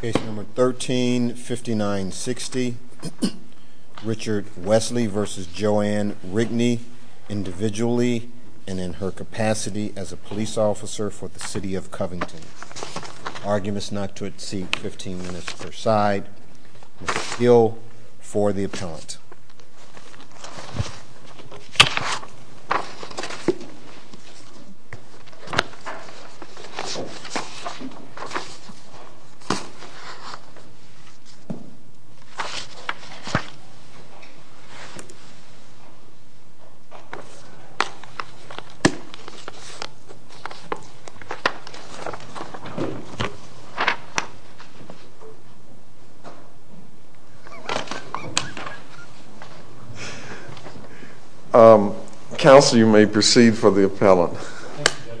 Case number 13-59-60, Richard Wesley v. Joanne Rigney, individually and in her capacity as a police officer for the City of Covington. Arguments not to exceed 15 minutes per side. Bill for the appellant. Counsel, you may proceed for the appellant. Thank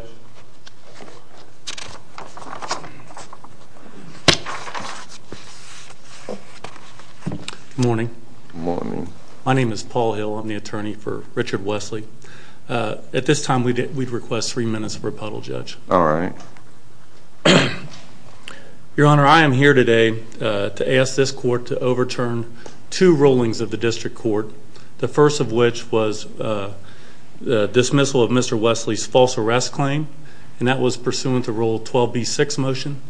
you, Judge. Good morning. Good morning. My name is Paul Hill. I'm the attorney for Richard Wesley. At this time, we'd request three minutes of rebuttal, Judge. All right. Your Honor, I am here today to ask this Court to overturn two rulings of the District Court. The first of which was the dismissal of Mr. Wesley's false arrest claim. And that was pursuant to Rule 12b-6 motion.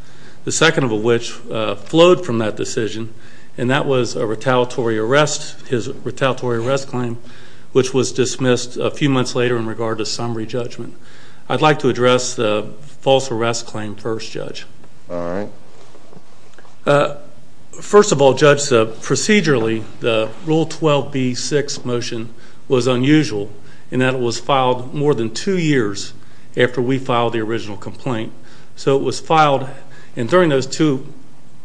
The second of which flowed from that decision. And that was a retaliatory arrest, his retaliatory arrest claim, which was dismissed a few months later in regard to summary judgment. I'd like to address the false arrest claim first, Judge. All right. First of all, Judge, procedurally, the Rule 12b-6 motion was unusual in that it was filed more than two years after we filed the original complaint. So it was filed, and during those two,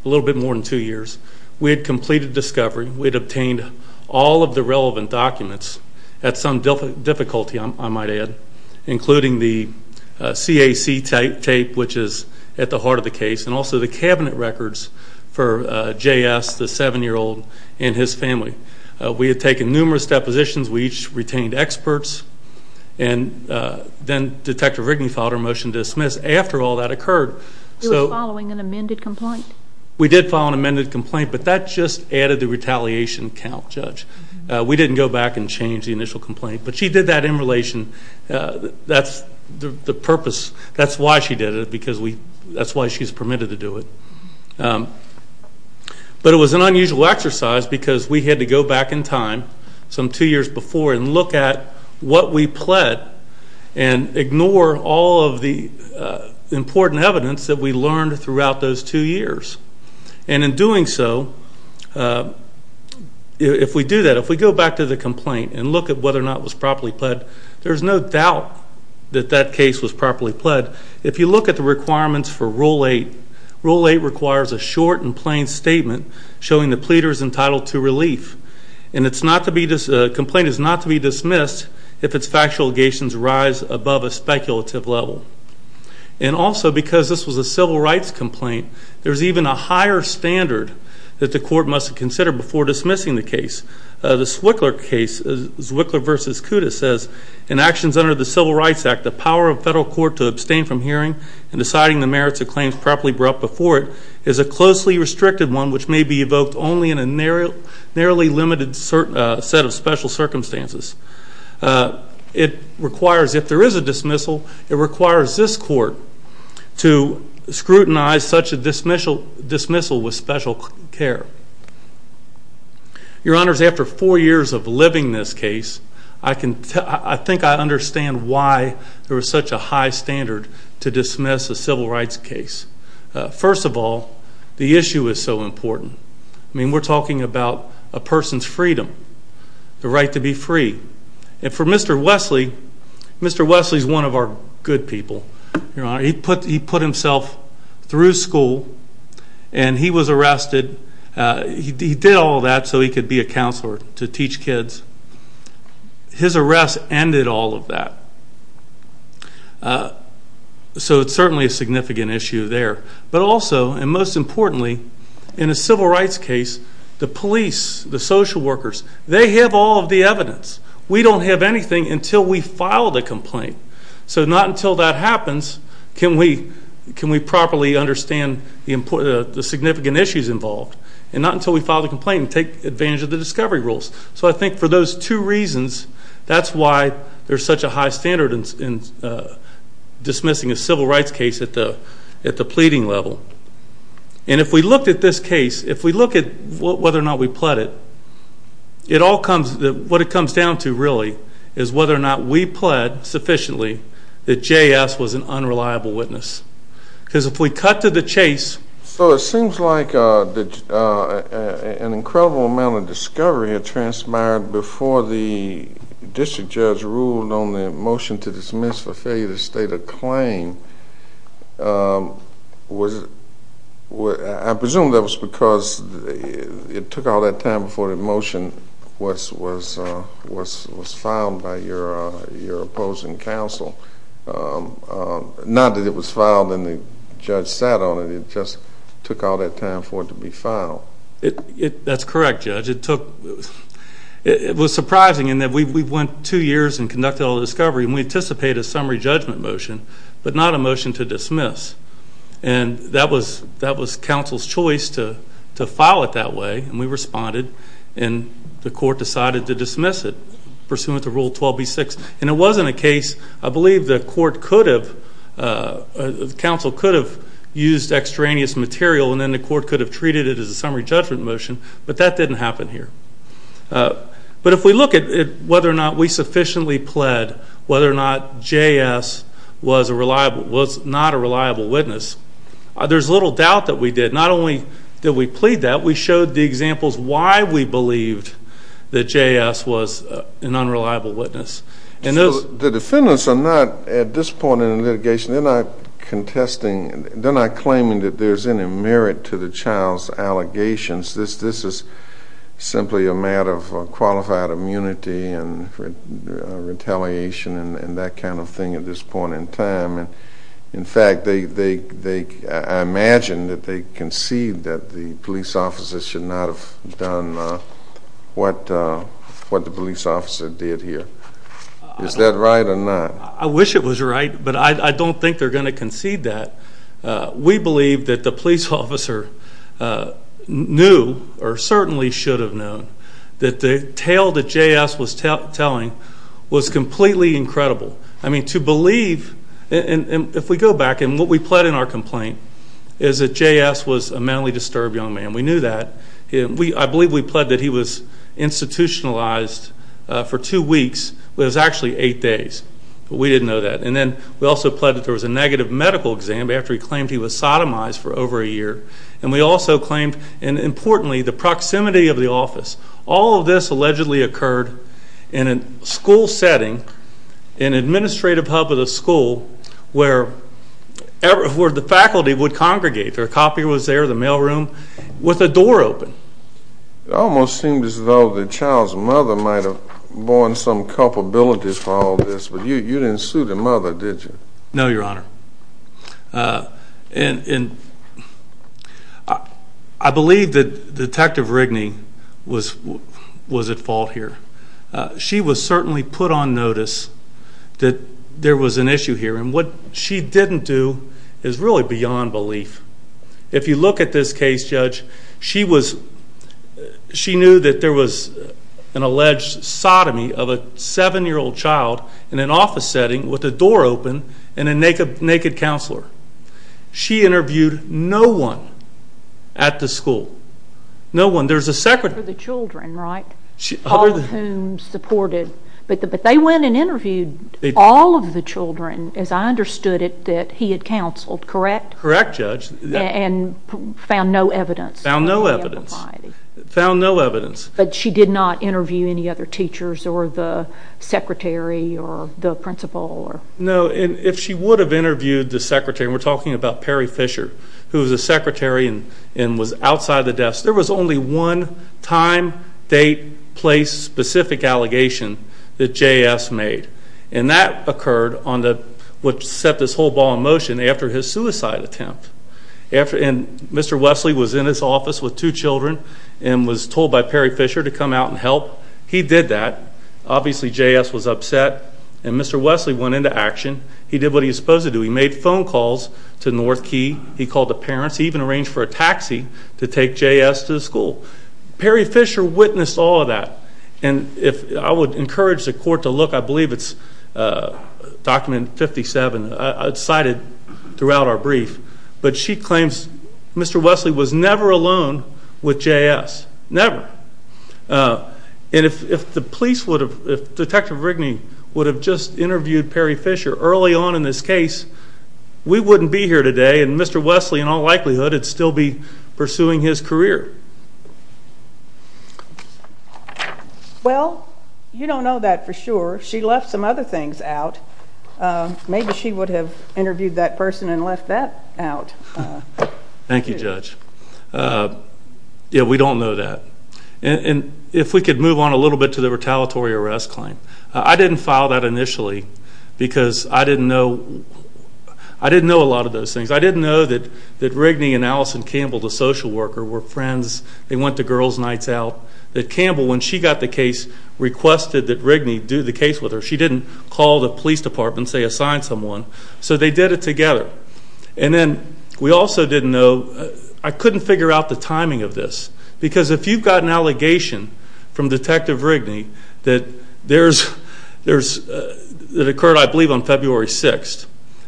a little bit more than two years, we had completed discovery. We had obtained all of the relevant documents at some difficulty, I might add, including the CAC tape, which is at the heart of the case, and also the cabinet records for J.S., the 7-year-old, and his family. We had taken numerous depositions. We each retained experts. And then Detective Rigney filed our motion to dismiss after all that occurred. You were following an amended complaint? We did follow an amended complaint, but that just added the retaliation count, Judge. We didn't go back and change the initial complaint, but she did that in relation. That's the purpose. That's why she did it, because that's why she's permitted to do it. But it was an unusual exercise, because we had to go back in time some two years before and look at what we pled and ignore all of the important evidence that we learned throughout those two years. And in doing so, if we do that, if we go back to the complaint and look at whether or not it was properly pled, there's no doubt that that case was properly pled. If you look at the requirements for Rule 8, Rule 8 requires a short and plain statement showing the pleader is entitled to relief. And a complaint is not to be dismissed if its factual allegations rise above a speculative level. And also, because this was a civil rights complaint, there's even a higher standard that the court must consider before dismissing the case. The Zwickler case, Zwickler v. Kudas, says, In actions under the Civil Rights Act, the power of federal court to abstain from hearing and deciding the merits of claims properly brought before it is a closely restricted one which may be evoked only in a narrowly limited set of special circumstances. It requires, if there is a dismissal, it requires this court to scrutinize such a dismissal with special care. Your Honors, after four years of living this case, I think I understand why there was such a high standard to dismiss a civil rights case. First of all, the issue is so important. I mean, we're talking about a person's freedom, the right to be free. And for Mr. Wesley, Mr. Wesley is one of our good people, Your Honor. He put himself through school and he was arrested. He did all that so he could be a counselor to teach kids. His arrest ended all of that. So it's certainly a significant issue there. But also, and most importantly, in a civil rights case, the police, the social workers, they have all of the evidence. We don't have anything until we file the complaint. So not until that happens can we properly understand the significant issues involved and not until we file the complaint and take advantage of the discovery rules. So I think for those two reasons, that's why there's such a high standard in dismissing a civil rights case at the pleading level. And if we looked at this case, if we look at whether or not we pled it, what it comes down to really is whether or not we pled sufficiently that J.S. was an unreliable witness. Because if we cut to the chase. So it seems like an incredible amount of discovery had transpired before the district judge ruled on the motion to dismiss for failure to state a claim. I presume that was because it took all that time before the motion was filed by your opposing counsel. Not that it was filed and the judge sat on it. It just took all that time for it to be filed. That's correct, Judge. It was surprising in that we went two years and conducted all the discovery and we anticipated a summary judgment motion, but not a motion to dismiss. And that was counsel's choice to file it that way, and we responded, and the court decided to dismiss it pursuant to Rule 12b-6. And it wasn't a case I believe the court could have, the counsel could have used extraneous material and then the court could have treated it as a summary judgment motion, but that didn't happen here. But if we look at whether or not we sufficiently pled whether or not J.S. was not a reliable witness, there's little doubt that we did. The defendants are not, at this point in the litigation, they're not contesting, they're not claiming that there's any merit to the child's allegations. This is simply a matter of qualified immunity and retaliation and that kind of thing at this point in time. In fact, I imagine that they concede that the police officer should not have done what the police officer did here. Is that right or not? I wish it was right, but I don't think they're going to concede that. We believe that the police officer knew, or certainly should have known, that the tale that J.S. was telling was completely incredible. I mean, to believe, and if we go back, and what we pled in our complaint is that J.S. was a mentally disturbed young man. We knew that. I believe we pled that he was institutionalized for two weeks. It was actually eight days, but we didn't know that. And then we also pled that there was a negative medical exam after he claimed he was sodomized for over a year. And we also claimed, and importantly, the proximity of the office. All of this allegedly occurred in a school setting, an administrative hub of the school, where the faculty would congregate. Their coffee was there, the mail room, with the door open. It almost seems as though the child's mother might have borne some culpabilities for all this, but you didn't sue the mother, did you? No, Your Honor. And I believe that Detective Rigney was at fault here. She was certainly put on notice that there was an issue here. And what she didn't do is really beyond belief. If you look at this case, Judge, she knew that there was an alleged sodomy of a seven-year-old child in an office setting with the door open and a naked counselor. She interviewed no one at the school. No one. There was a secretary. For the children, right? All of whom supported. But they went and interviewed all of the children, as I understood it, that he had counseled, correct? Correct, Judge. And found no evidence? Found no evidence. Found no evidence. But she did not interview any other teachers or the secretary or the principal? No. If she would have interviewed the secretary, and we're talking about Perry Fisher, who was a secretary and was outside the desk, there was only one time, date, place, specific allegation that J.S. made. And that occurred on what set this whole ball in motion after his suicide attempt. And Mr. Wesley was in his office with two children and was told by Perry Fisher to come out and help. He did that. Obviously, J.S. was upset. And Mr. Wesley went into action. He did what he was supposed to do. He made phone calls to North Quay. He called the parents. He even arranged for a taxi to take J.S. to the school. Perry Fisher witnessed all of that. And I would encourage the court to look. I believe it's document 57. It's cited throughout our brief. But she claims Mr. Wesley was never alone with J.S., never. And if the police would have, if Detective Rigney would have just interviewed Perry Fisher early on in this case, we wouldn't be here today. And Mr. Wesley, in all likelihood, would still be pursuing his career. Well, you don't know that for sure. She left some other things out. Maybe she would have interviewed that person and left that out. Thank you, Judge. Yeah, we don't know that. And if we could move on a little bit to the retaliatory arrest claim. I didn't file that initially because I didn't know a lot of those things. I didn't know that Rigney and Allison Campbell, the social worker, were friends. They went to girls' nights out. That Campbell, when she got the case, requested that Rigney do the case with her. She didn't call the police department and say assign someone. So they did it together. And then we also didn't know, I couldn't figure out the timing of this. Because if you've got an allegation from Detective Rigney that occurred, I believe, on February 6th,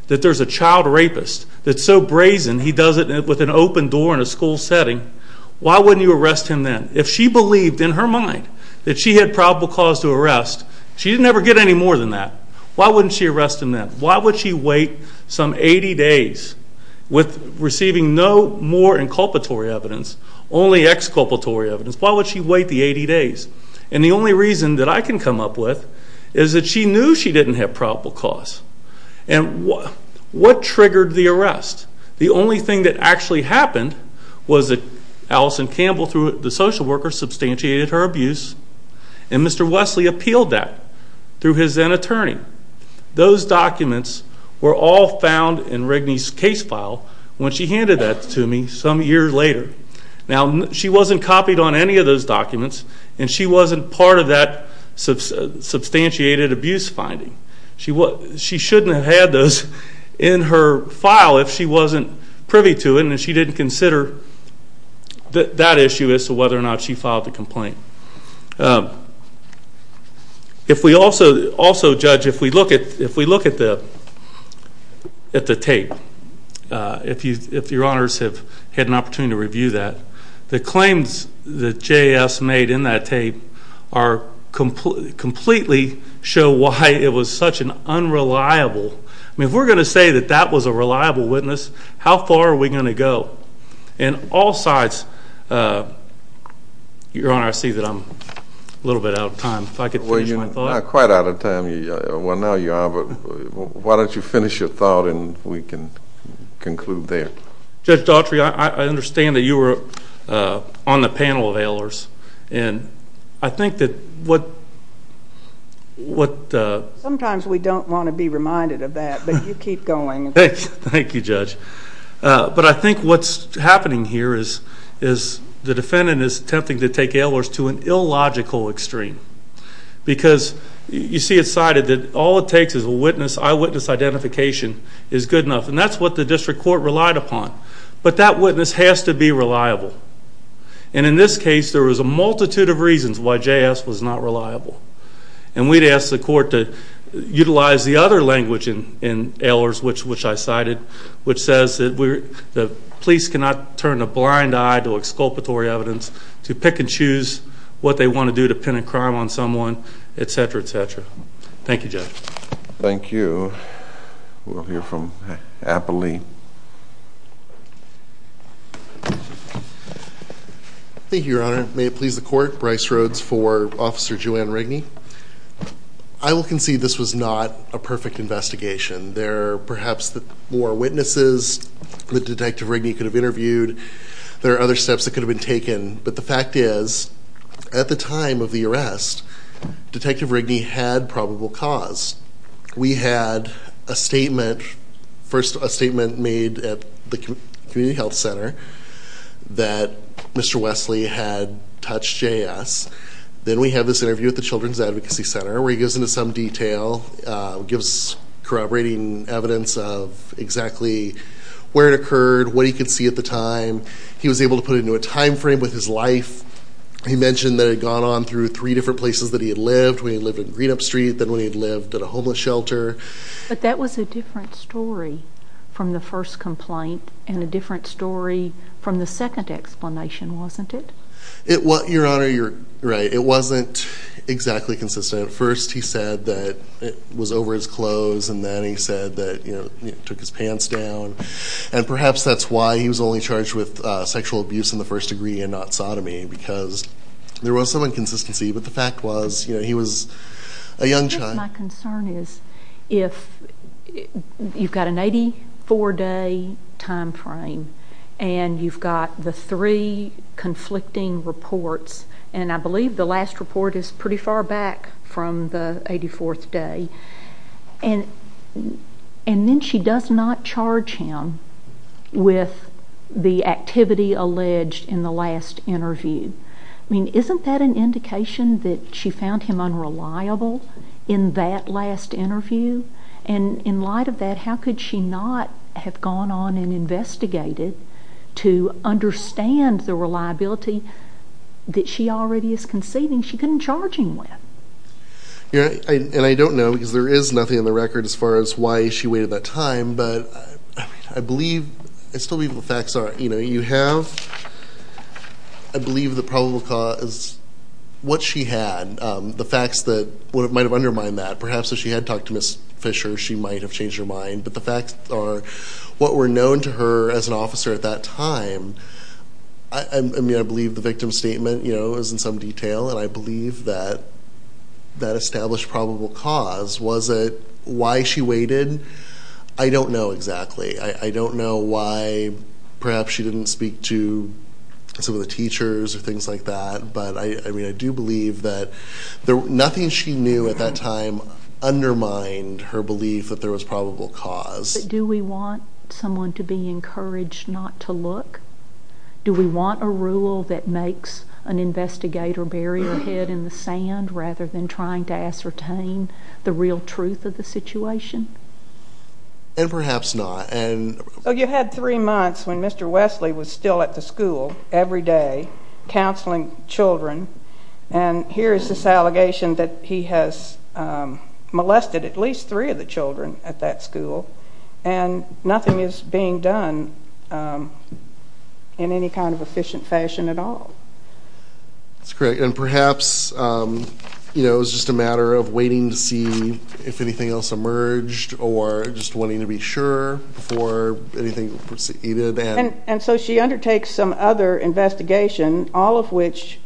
that there's a child rapist that's so brazen he does it with an open door in a school setting, why wouldn't you arrest him then? If she believed in her mind that she had probable cause to arrest, she'd never get any more than that. Why wouldn't she arrest him then? Why would she wait some 80 days with receiving no more inculpatory evidence, only exculpatory evidence? Why would she wait the 80 days? And the only reason that I can come up with is that she knew she didn't have probable cause. And what triggered the arrest? The only thing that actually happened was that Allison Campbell, through the social worker, substantiated her abuse, and Mr. Wesley appealed that through his then-attorney. Those documents were all found in Rigney's case file when she handed that to me some years later. Now, she wasn't copied on any of those documents, and she wasn't part of that substantiated abuse finding. She shouldn't have had those in her file if she wasn't privy to it and she didn't consider that issue as to whether or not she filed the complaint. Also, Judge, if we look at the tape, if Your Honors have had an opportunity to review that, the claims that J.S. made in that tape completely show why it was such an unreliable. I mean, if we're going to say that that was a reliable witness, how far are we going to go? In all sides, Your Honor, I see that I'm a little bit out of time. If I could finish my thought. Well, you're not quite out of time. Well, now you are, but why don't you finish your thought and we can conclude there. Judge Daughtry, I understand that you were on the panel of ailers, and I think that what the— Sometimes we don't want to be reminded of that, but you keep going. Thank you, Judge. But I think what's happening here is the defendant is attempting to take ailers to an illogical extreme because, you see, it's cited that all it takes is an eyewitness identification is good enough. And that's what the district court relied upon. But that witness has to be reliable. And in this case, there was a multitude of reasons why J.S. was not reliable. And we'd ask the court to utilize the other language in ailers, which I cited, which says that the police cannot turn a blind eye to exculpatory evidence, to pick and choose what they want to do to pin a crime on someone, et cetera, et cetera. Thank you, Judge. Thank you. We'll hear from Applee. Thank you, Your Honor. May it please the court. Bryce Rhodes for Officer Joanne Rigney. I will concede this was not a perfect investigation. There are perhaps more witnesses that Detective Rigney could have interviewed. There are other steps that could have been taken. But the fact is, at the time of the arrest, Detective Rigney had probable cause. We had a statement, first a statement made at the community health center, that Mr. Wesley had touched J.S. Then we have this interview at the Children's Advocacy Center where he goes into some detail, gives corroborating evidence of exactly where it occurred, what he could see at the time. He was able to put it into a time frame with his life. He mentioned that he had gone on through three different places that he had lived, first when he lived in Greenup Street, then when he lived in a homeless shelter. But that was a different story from the first complaint and a different story from the second explanation, wasn't it? Your Honor, you're right. It wasn't exactly consistent. First he said that it was over his clothes, and then he said that he took his pants down. And perhaps that's why he was only charged with sexual abuse in the first degree and not sodomy, because there was some inconsistency. But the fact was he was a young child. My concern is if you've got an 84-day time frame and you've got the three conflicting reports, and I believe the last report is pretty far back from the 84th day, and then she does not charge him with the activity alleged in the last interview. I mean, isn't that an indication that she found him unreliable in that last interview? And in light of that, how could she not have gone on and investigated to understand the reliability that she already is conceding she couldn't charge him with? Your Honor, and I don't know, because there is nothing on the record as far as why she waited that time, but I believe, I still believe the facts are, you know, you have, I believe the probable cause, what she had, the facts that might have undermined that. Perhaps if she had talked to Ms. Fisher, she might have changed her mind, but the facts are what were known to her as an officer at that time. I mean, I believe the victim's statement, you know, is in some detail, and I believe that that established probable cause. Was it why she waited? I don't know exactly. I don't know why perhaps she didn't speak to some of the teachers or things like that, but I mean, I do believe that nothing she knew at that time undermined her belief that there was probable cause. But do we want someone to be encouraged not to look? Do we want a rule that makes an investigator bury their head in the sand rather than trying to ascertain the real truth of the situation? And perhaps not. So you had three months when Mr. Wesley was still at the school every day counseling children, and here is this allegation that he has molested at least three of the children at that school, and nothing is being done in any kind of efficient fashion at all. That's correct. And perhaps, you know, it was just a matter of waiting to see if anything else emerged or just wanting to be sure before anything proceeded. And so she undertakes some other investigation, all of which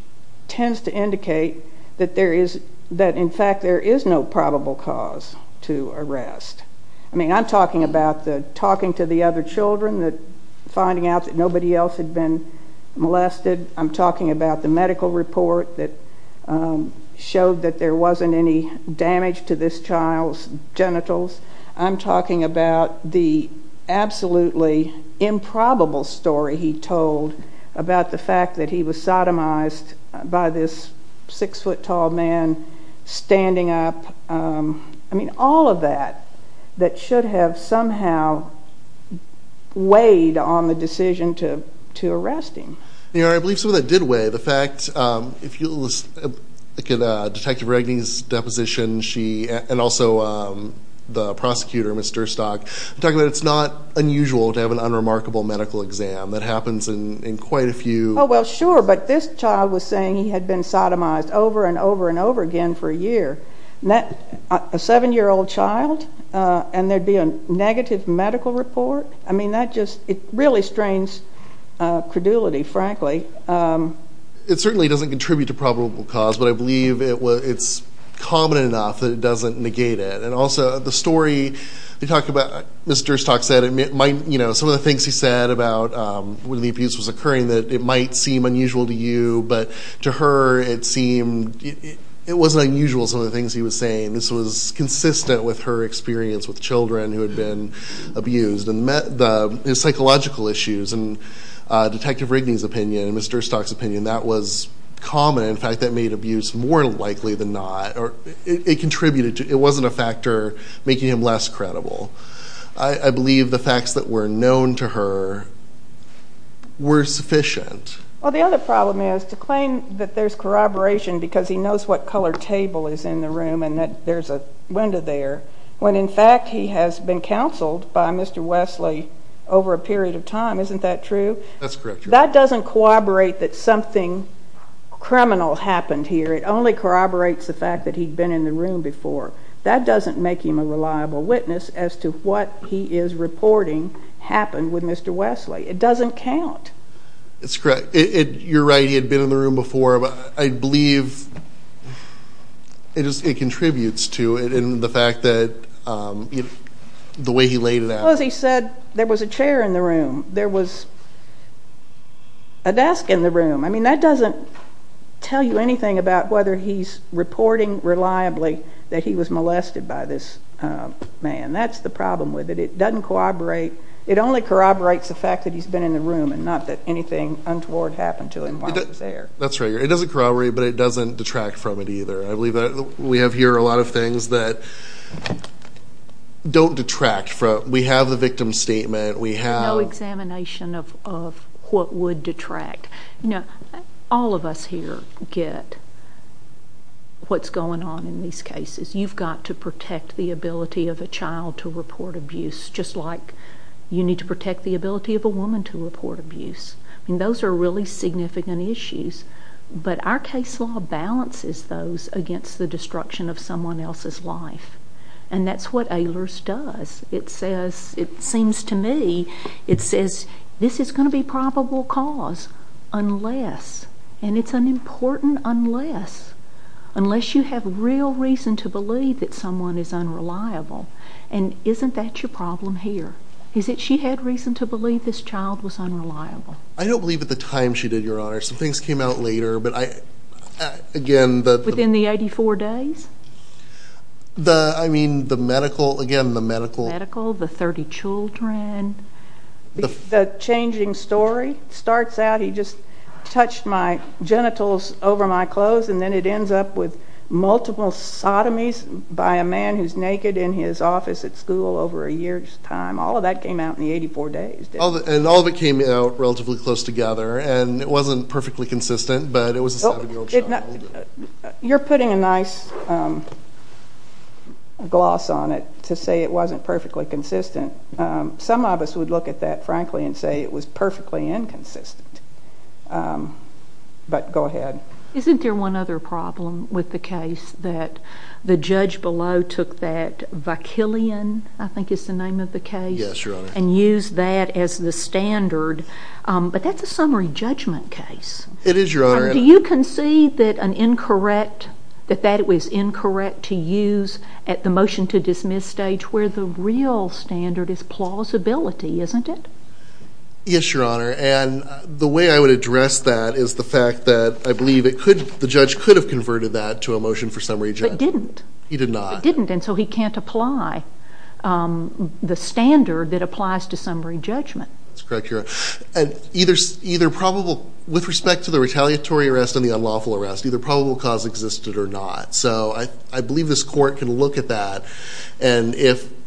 tends to indicate that in fact there is no probable cause to arrest. I mean, I'm talking about the talking to the other children, finding out that nobody else had been molested. I'm talking about the medical report that showed that there wasn't any damage to this child's genitals. I'm talking about the absolutely improbable story he told about the fact that he was sodomized by this six-foot-tall man standing up. I mean, all of that, that should have somehow weighed on the decision to arrest him. I believe some of that did weigh. The fact, if you look at Detective Reganey's deposition, and also the prosecutor, Ms. Durstock, I'm talking about it's not unusual to have an unremarkable medical exam. That happens in quite a few. Oh, well, sure, but this child was saying he had been sodomized over and over and over again for a year. A seven-year-old child, and there'd be a negative medical report? I mean, that just, it really strains credulity, frankly. It certainly doesn't contribute to probable cause, but I believe it's common enough that it doesn't negate it. And also, the story you talked about, Ms. Durstock said, some of the things he said about when the abuse was occurring, that it might seem unusual to you, but to her it seemed it wasn't unusual, some of the things he was saying. This was consistent with her experience with children who had been abused. And the psychological issues, and Detective Reganey's opinion, and Ms. Durstock's opinion, that was common. In fact, that made abuse more likely than not. It contributed to, it wasn't a factor making him less credible. I believe the facts that were known to her were sufficient. Well, the other problem is to claim that there's corroboration because he knows what color table is in the room and that there's a window there, when in fact he has been counseled by Mr. Wesley over a period of time. Isn't that true? That's correct. That doesn't corroborate that something criminal happened here. It only corroborates the fact that he'd been in the room before. That doesn't make him a reliable witness as to what he is reporting happened with Mr. Wesley. It doesn't count. That's correct. You're right. He had been in the room before. I believe it contributes to it in the fact that the way he laid it out. Well, as he said, there was a chair in the room. There was a desk in the room. I mean, that doesn't tell you anything about whether he's reporting reliably that he was molested by this man. That's the problem with it. It doesn't corroborate. It only corroborates the fact that he's been in the room and not that anything untoward happened to him while he was there. That's right. It doesn't corroborate, but it doesn't detract from it either. I believe that we have here a lot of things that don't detract. We have the victim's statement. No examination of what would detract. All of us here get what's going on in these cases. You've got to protect the ability of a child to report abuse, just like you need to protect the ability of a woman to report abuse. Those are really significant issues. But our case law balances those against the destruction of someone else's life, and that's what Ehlers does. It seems to me it says this is going to be probable cause unless, and it's an important unless, unless you have real reason to believe that someone is unreliable. And isn't that your problem here? Is it she had reason to believe this child was unreliable? I don't believe at the time she did, Your Honor. Some things came out later, but again, the— Within the 84 days? I mean, the medical, again, the medical— The medical, the 30 children. The changing story starts out, he just touched my genitals over my clothes, and then it ends up with multiple sodomies by a man who's naked in his office at school over a year's time. All of that came out in the 84 days, didn't it? And all of it came out relatively close together, and it wasn't perfectly consistent, but it was a 7-year-old child. You're putting a nice gloss on it to say it wasn't perfectly consistent. Some of us would look at that, frankly, and say it was perfectly inconsistent. But go ahead. Isn't there one other problem with the case that the judge below took that vaquillion, I think is the name of the case, and used that as the standard? But that's a summary judgment case. It is, Your Honor. Do you concede that that was incorrect to use at the motion to dismiss stage where the real standard is plausibility, isn't it? Yes, Your Honor. And the way I would address that is the fact that I believe the judge could have converted that to a motion for summary judgment. But didn't. He did not. But didn't, and so he can't apply the standard that applies to summary judgment. That's correct, Your Honor. And with respect to the retaliatory arrest and the unlawful arrest, either probable cause existed or not. So I believe this court can look at that and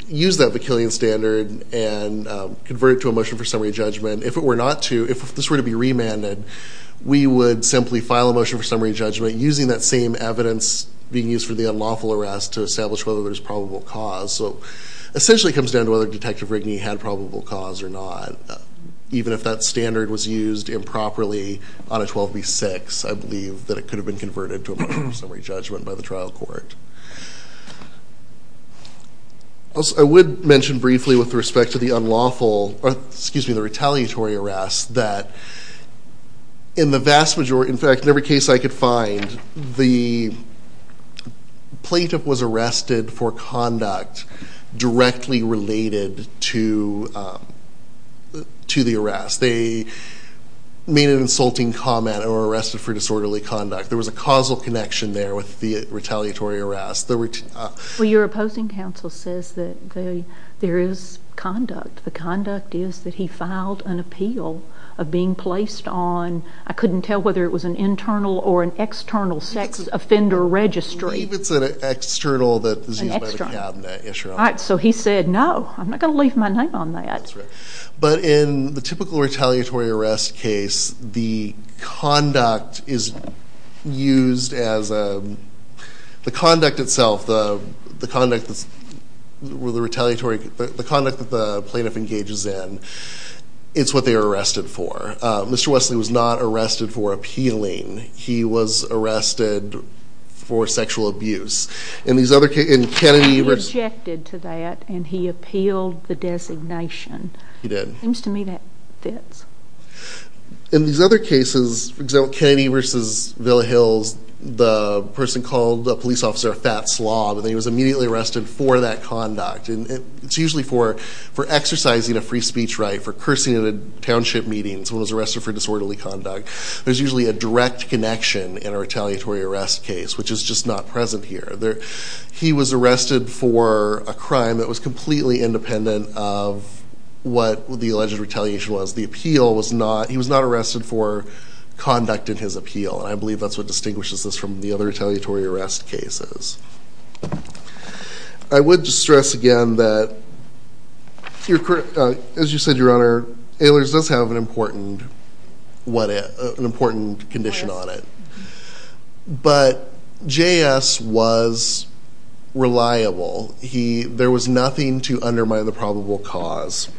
use that vaquillion standard and convert it to a motion for summary judgment. If it were not to, if this were to be remanded, we would simply file a motion for summary judgment using that same evidence being used for the unlawful arrest to establish whether there's probable cause. So it essentially comes down to whether Detective Rigney had probable cause or not. Even if that standard was used improperly on a 12b-6, I believe that it could have been converted to a motion for summary judgment by the trial court. I would mention briefly with respect to the retaliatory arrest that in the vast majority, in fact, in every case I could find, the plaintiff was arrested for conduct directly related to the arrest. They made an insulting comment or were arrested for disorderly conduct. There was a causal connection there with the retaliatory arrest. Well, your opposing counsel says that there is conduct. The conduct is that he filed an appeal of being placed on, I couldn't tell whether it was an internal or an external sex offender registry. I believe it's an external that is used by the cabinet, yes, Your Honor. All right. So he said, no, I'm not going to leave my name on that. That's right. But in the typical retaliatory arrest case, the conduct is used as a, the conduct itself, the conduct that the plaintiff engages in, it's what they are arrested for. Mr. Wesley was not arrested for appealing. He was arrested for sexual abuse. He objected to that and he appealed the designation. He did. It seems to me that fits. In these other cases, for example, Kennedy v. Villa Hills, the person called a police officer a fat slob and then he was immediately arrested for that conduct. It's usually for exercising a free speech right, for cursing at a township meeting, someone was arrested for disorderly conduct. There's usually a direct connection in a retaliatory arrest case, which is just not present here. He was arrested for a crime that was completely independent of what the alleged retaliation was. The appeal was not, he was not arrested for conduct in his appeal, and I believe that's what distinguishes this from the other retaliatory arrest cases. I would stress again that, as you said, Your Honor, Ehlers does have an important condition on it. But J.S. was reliable. There was nothing to undermine the probable cause.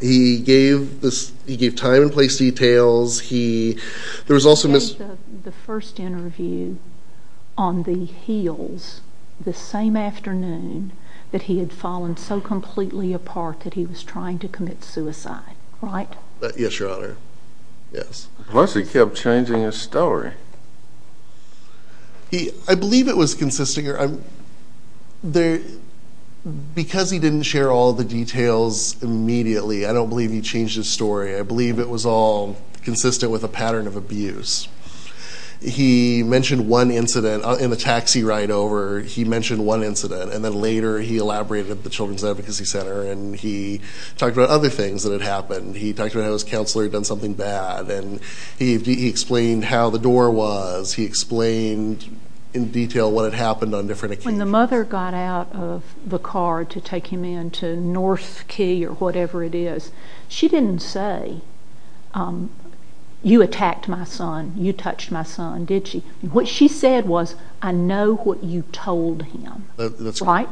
He gave time and place details. He gave the first interview on the hills the same afternoon that he had fallen so completely apart that he was trying to commit suicide, right? Yes, Your Honor. Yes. Plus he kept changing his story. I believe it was consistent. Because he didn't share all the details immediately, I don't believe he changed his story. I believe it was all consistent with a pattern of abuse. He mentioned one incident in the taxi ride over, he mentioned one incident, and then later he elaborated at the Children's Advocacy Center and he talked about other things that had happened. He talked about how his counselor had done something bad, and he explained how the door was. He explained in detail what had happened on different occasions. When the mother got out of the car to take him into North Key or whatever it is, she didn't say, you attacked my son, you touched my son, did she? What she said was, I know what you told him. That's right.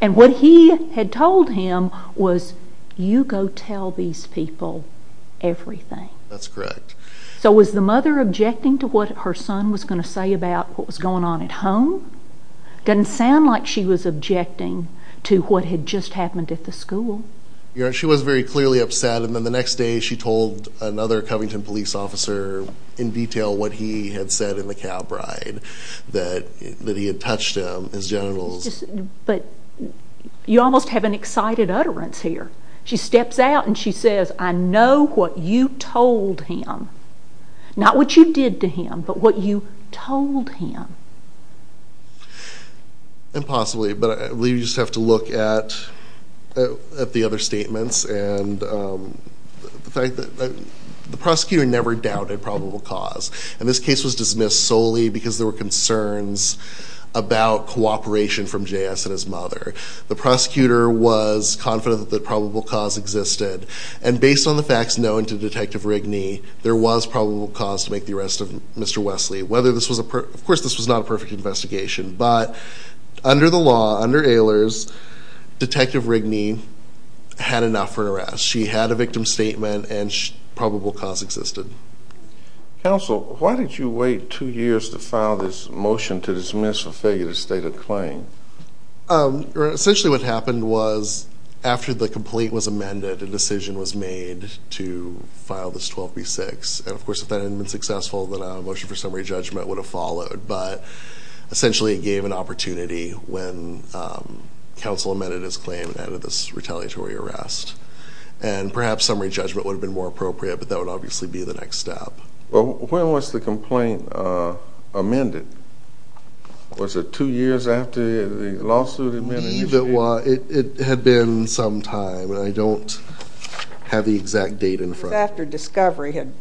And what he had told him was, you go tell these people everything. That's correct. So was the mother objecting to what her son was going to say about what was going on at home? It doesn't sound like she was objecting to what had just happened at the school. Your Honor, she was very clearly upset, and then the next day she told another Covington police officer in detail what he had said in the cab ride, that he had touched him, his genitals. But you almost have an excited utterance here. She steps out and she says, I know what you told him. Not what you did to him, but what you told him. Impossibly, but we just have to look at the other statements and the fact that the prosecutor never doubted probable cause. And this case was dismissed solely because there were concerns about cooperation from J.S. and his mother. The prosecutor was confident that probable cause existed. And based on the facts known to Detective Rigney, there was probable cause to make the arrest of Mr. Wesley. Of course this was not a perfect investigation, but under the law, under Ehlers, Detective Rigney had enough for an arrest. She had a victim statement and probable cause existed. Counsel, why did you wait two years to file this motion to dismiss a failure to state a claim? Essentially what happened was, after the complete was amended, a decision was made to file this 12B6. And of course if that hadn't been successful, then a motion for summary judgment would have followed. But essentially it gave an opportunity when counsel amended his claim and added this retaliatory arrest. And perhaps summary judgment would have been more appropriate, but that would obviously be the next step. Well, when was the complaint amended? Was it two years after the lawsuit amended? It had been some time, and I don't have the exact date in front of me. It was after discovery had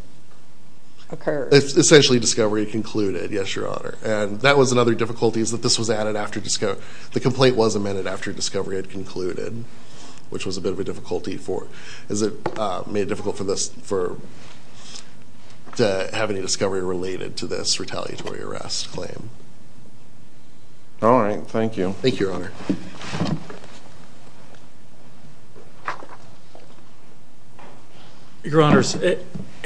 occurred. Essentially discovery concluded, yes, Your Honor. And that was another difficulty is that this was added after discovery. The complaint was amended after discovery had concluded, which was a bit of a difficulty for it. Has it made it difficult for us to have any discovery related to this retaliatory arrest claim? All right. Thank you. Thank you, Your Honor. Your Honor,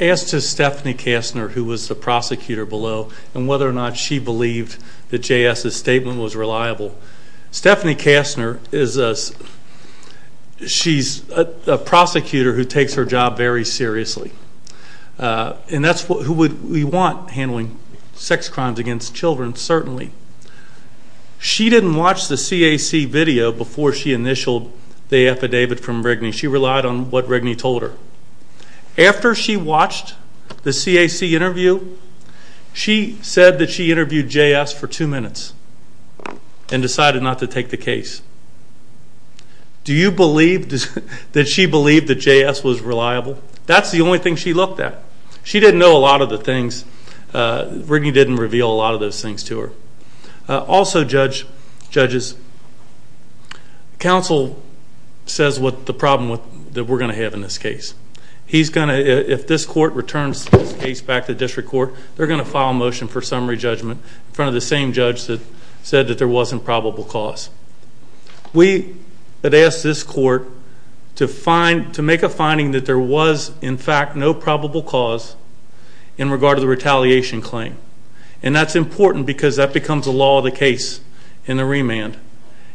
as to Stephanie Kastner, who was the prosecutor below, and whether or not she believed that J.S.'s statement was reliable, Stephanie Kastner is a prosecutor who takes her job very seriously. And that's who we want handling sex crimes against children, certainly. She didn't watch the CAC video before she initialed the affidavit from Rigney. She relied on what Rigney told her. After she watched the CAC interview, she said that she interviewed J.S. for two minutes and decided not to take the case. Did she believe that J.S. was reliable? That's the only thing she looked at. She didn't know a lot of the things. Rigney didn't reveal a lot of those things to her. Also, judges, counsel says what the problem that we're going to have in this case. If this court returns this case back to district court, they're going to file a motion for summary judgment in front of the same judge that said that there wasn't probable cause. We had asked this court to make a finding that there was, in fact, no probable cause in regard to the retaliation claim. And that's important because that becomes a law of the case in the remand.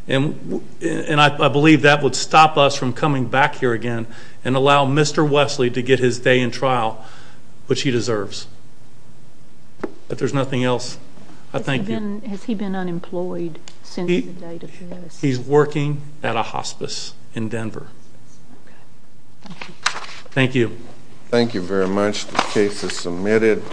And I believe that would stop us from coming back here again and allow Mr. Wesley to get his day in trial, which he deserves. If there's nothing else, I thank you. Has he been unemployed since the date of this? He's working at a hospice in Denver. Thank you. Thank you very much. The case is submitted.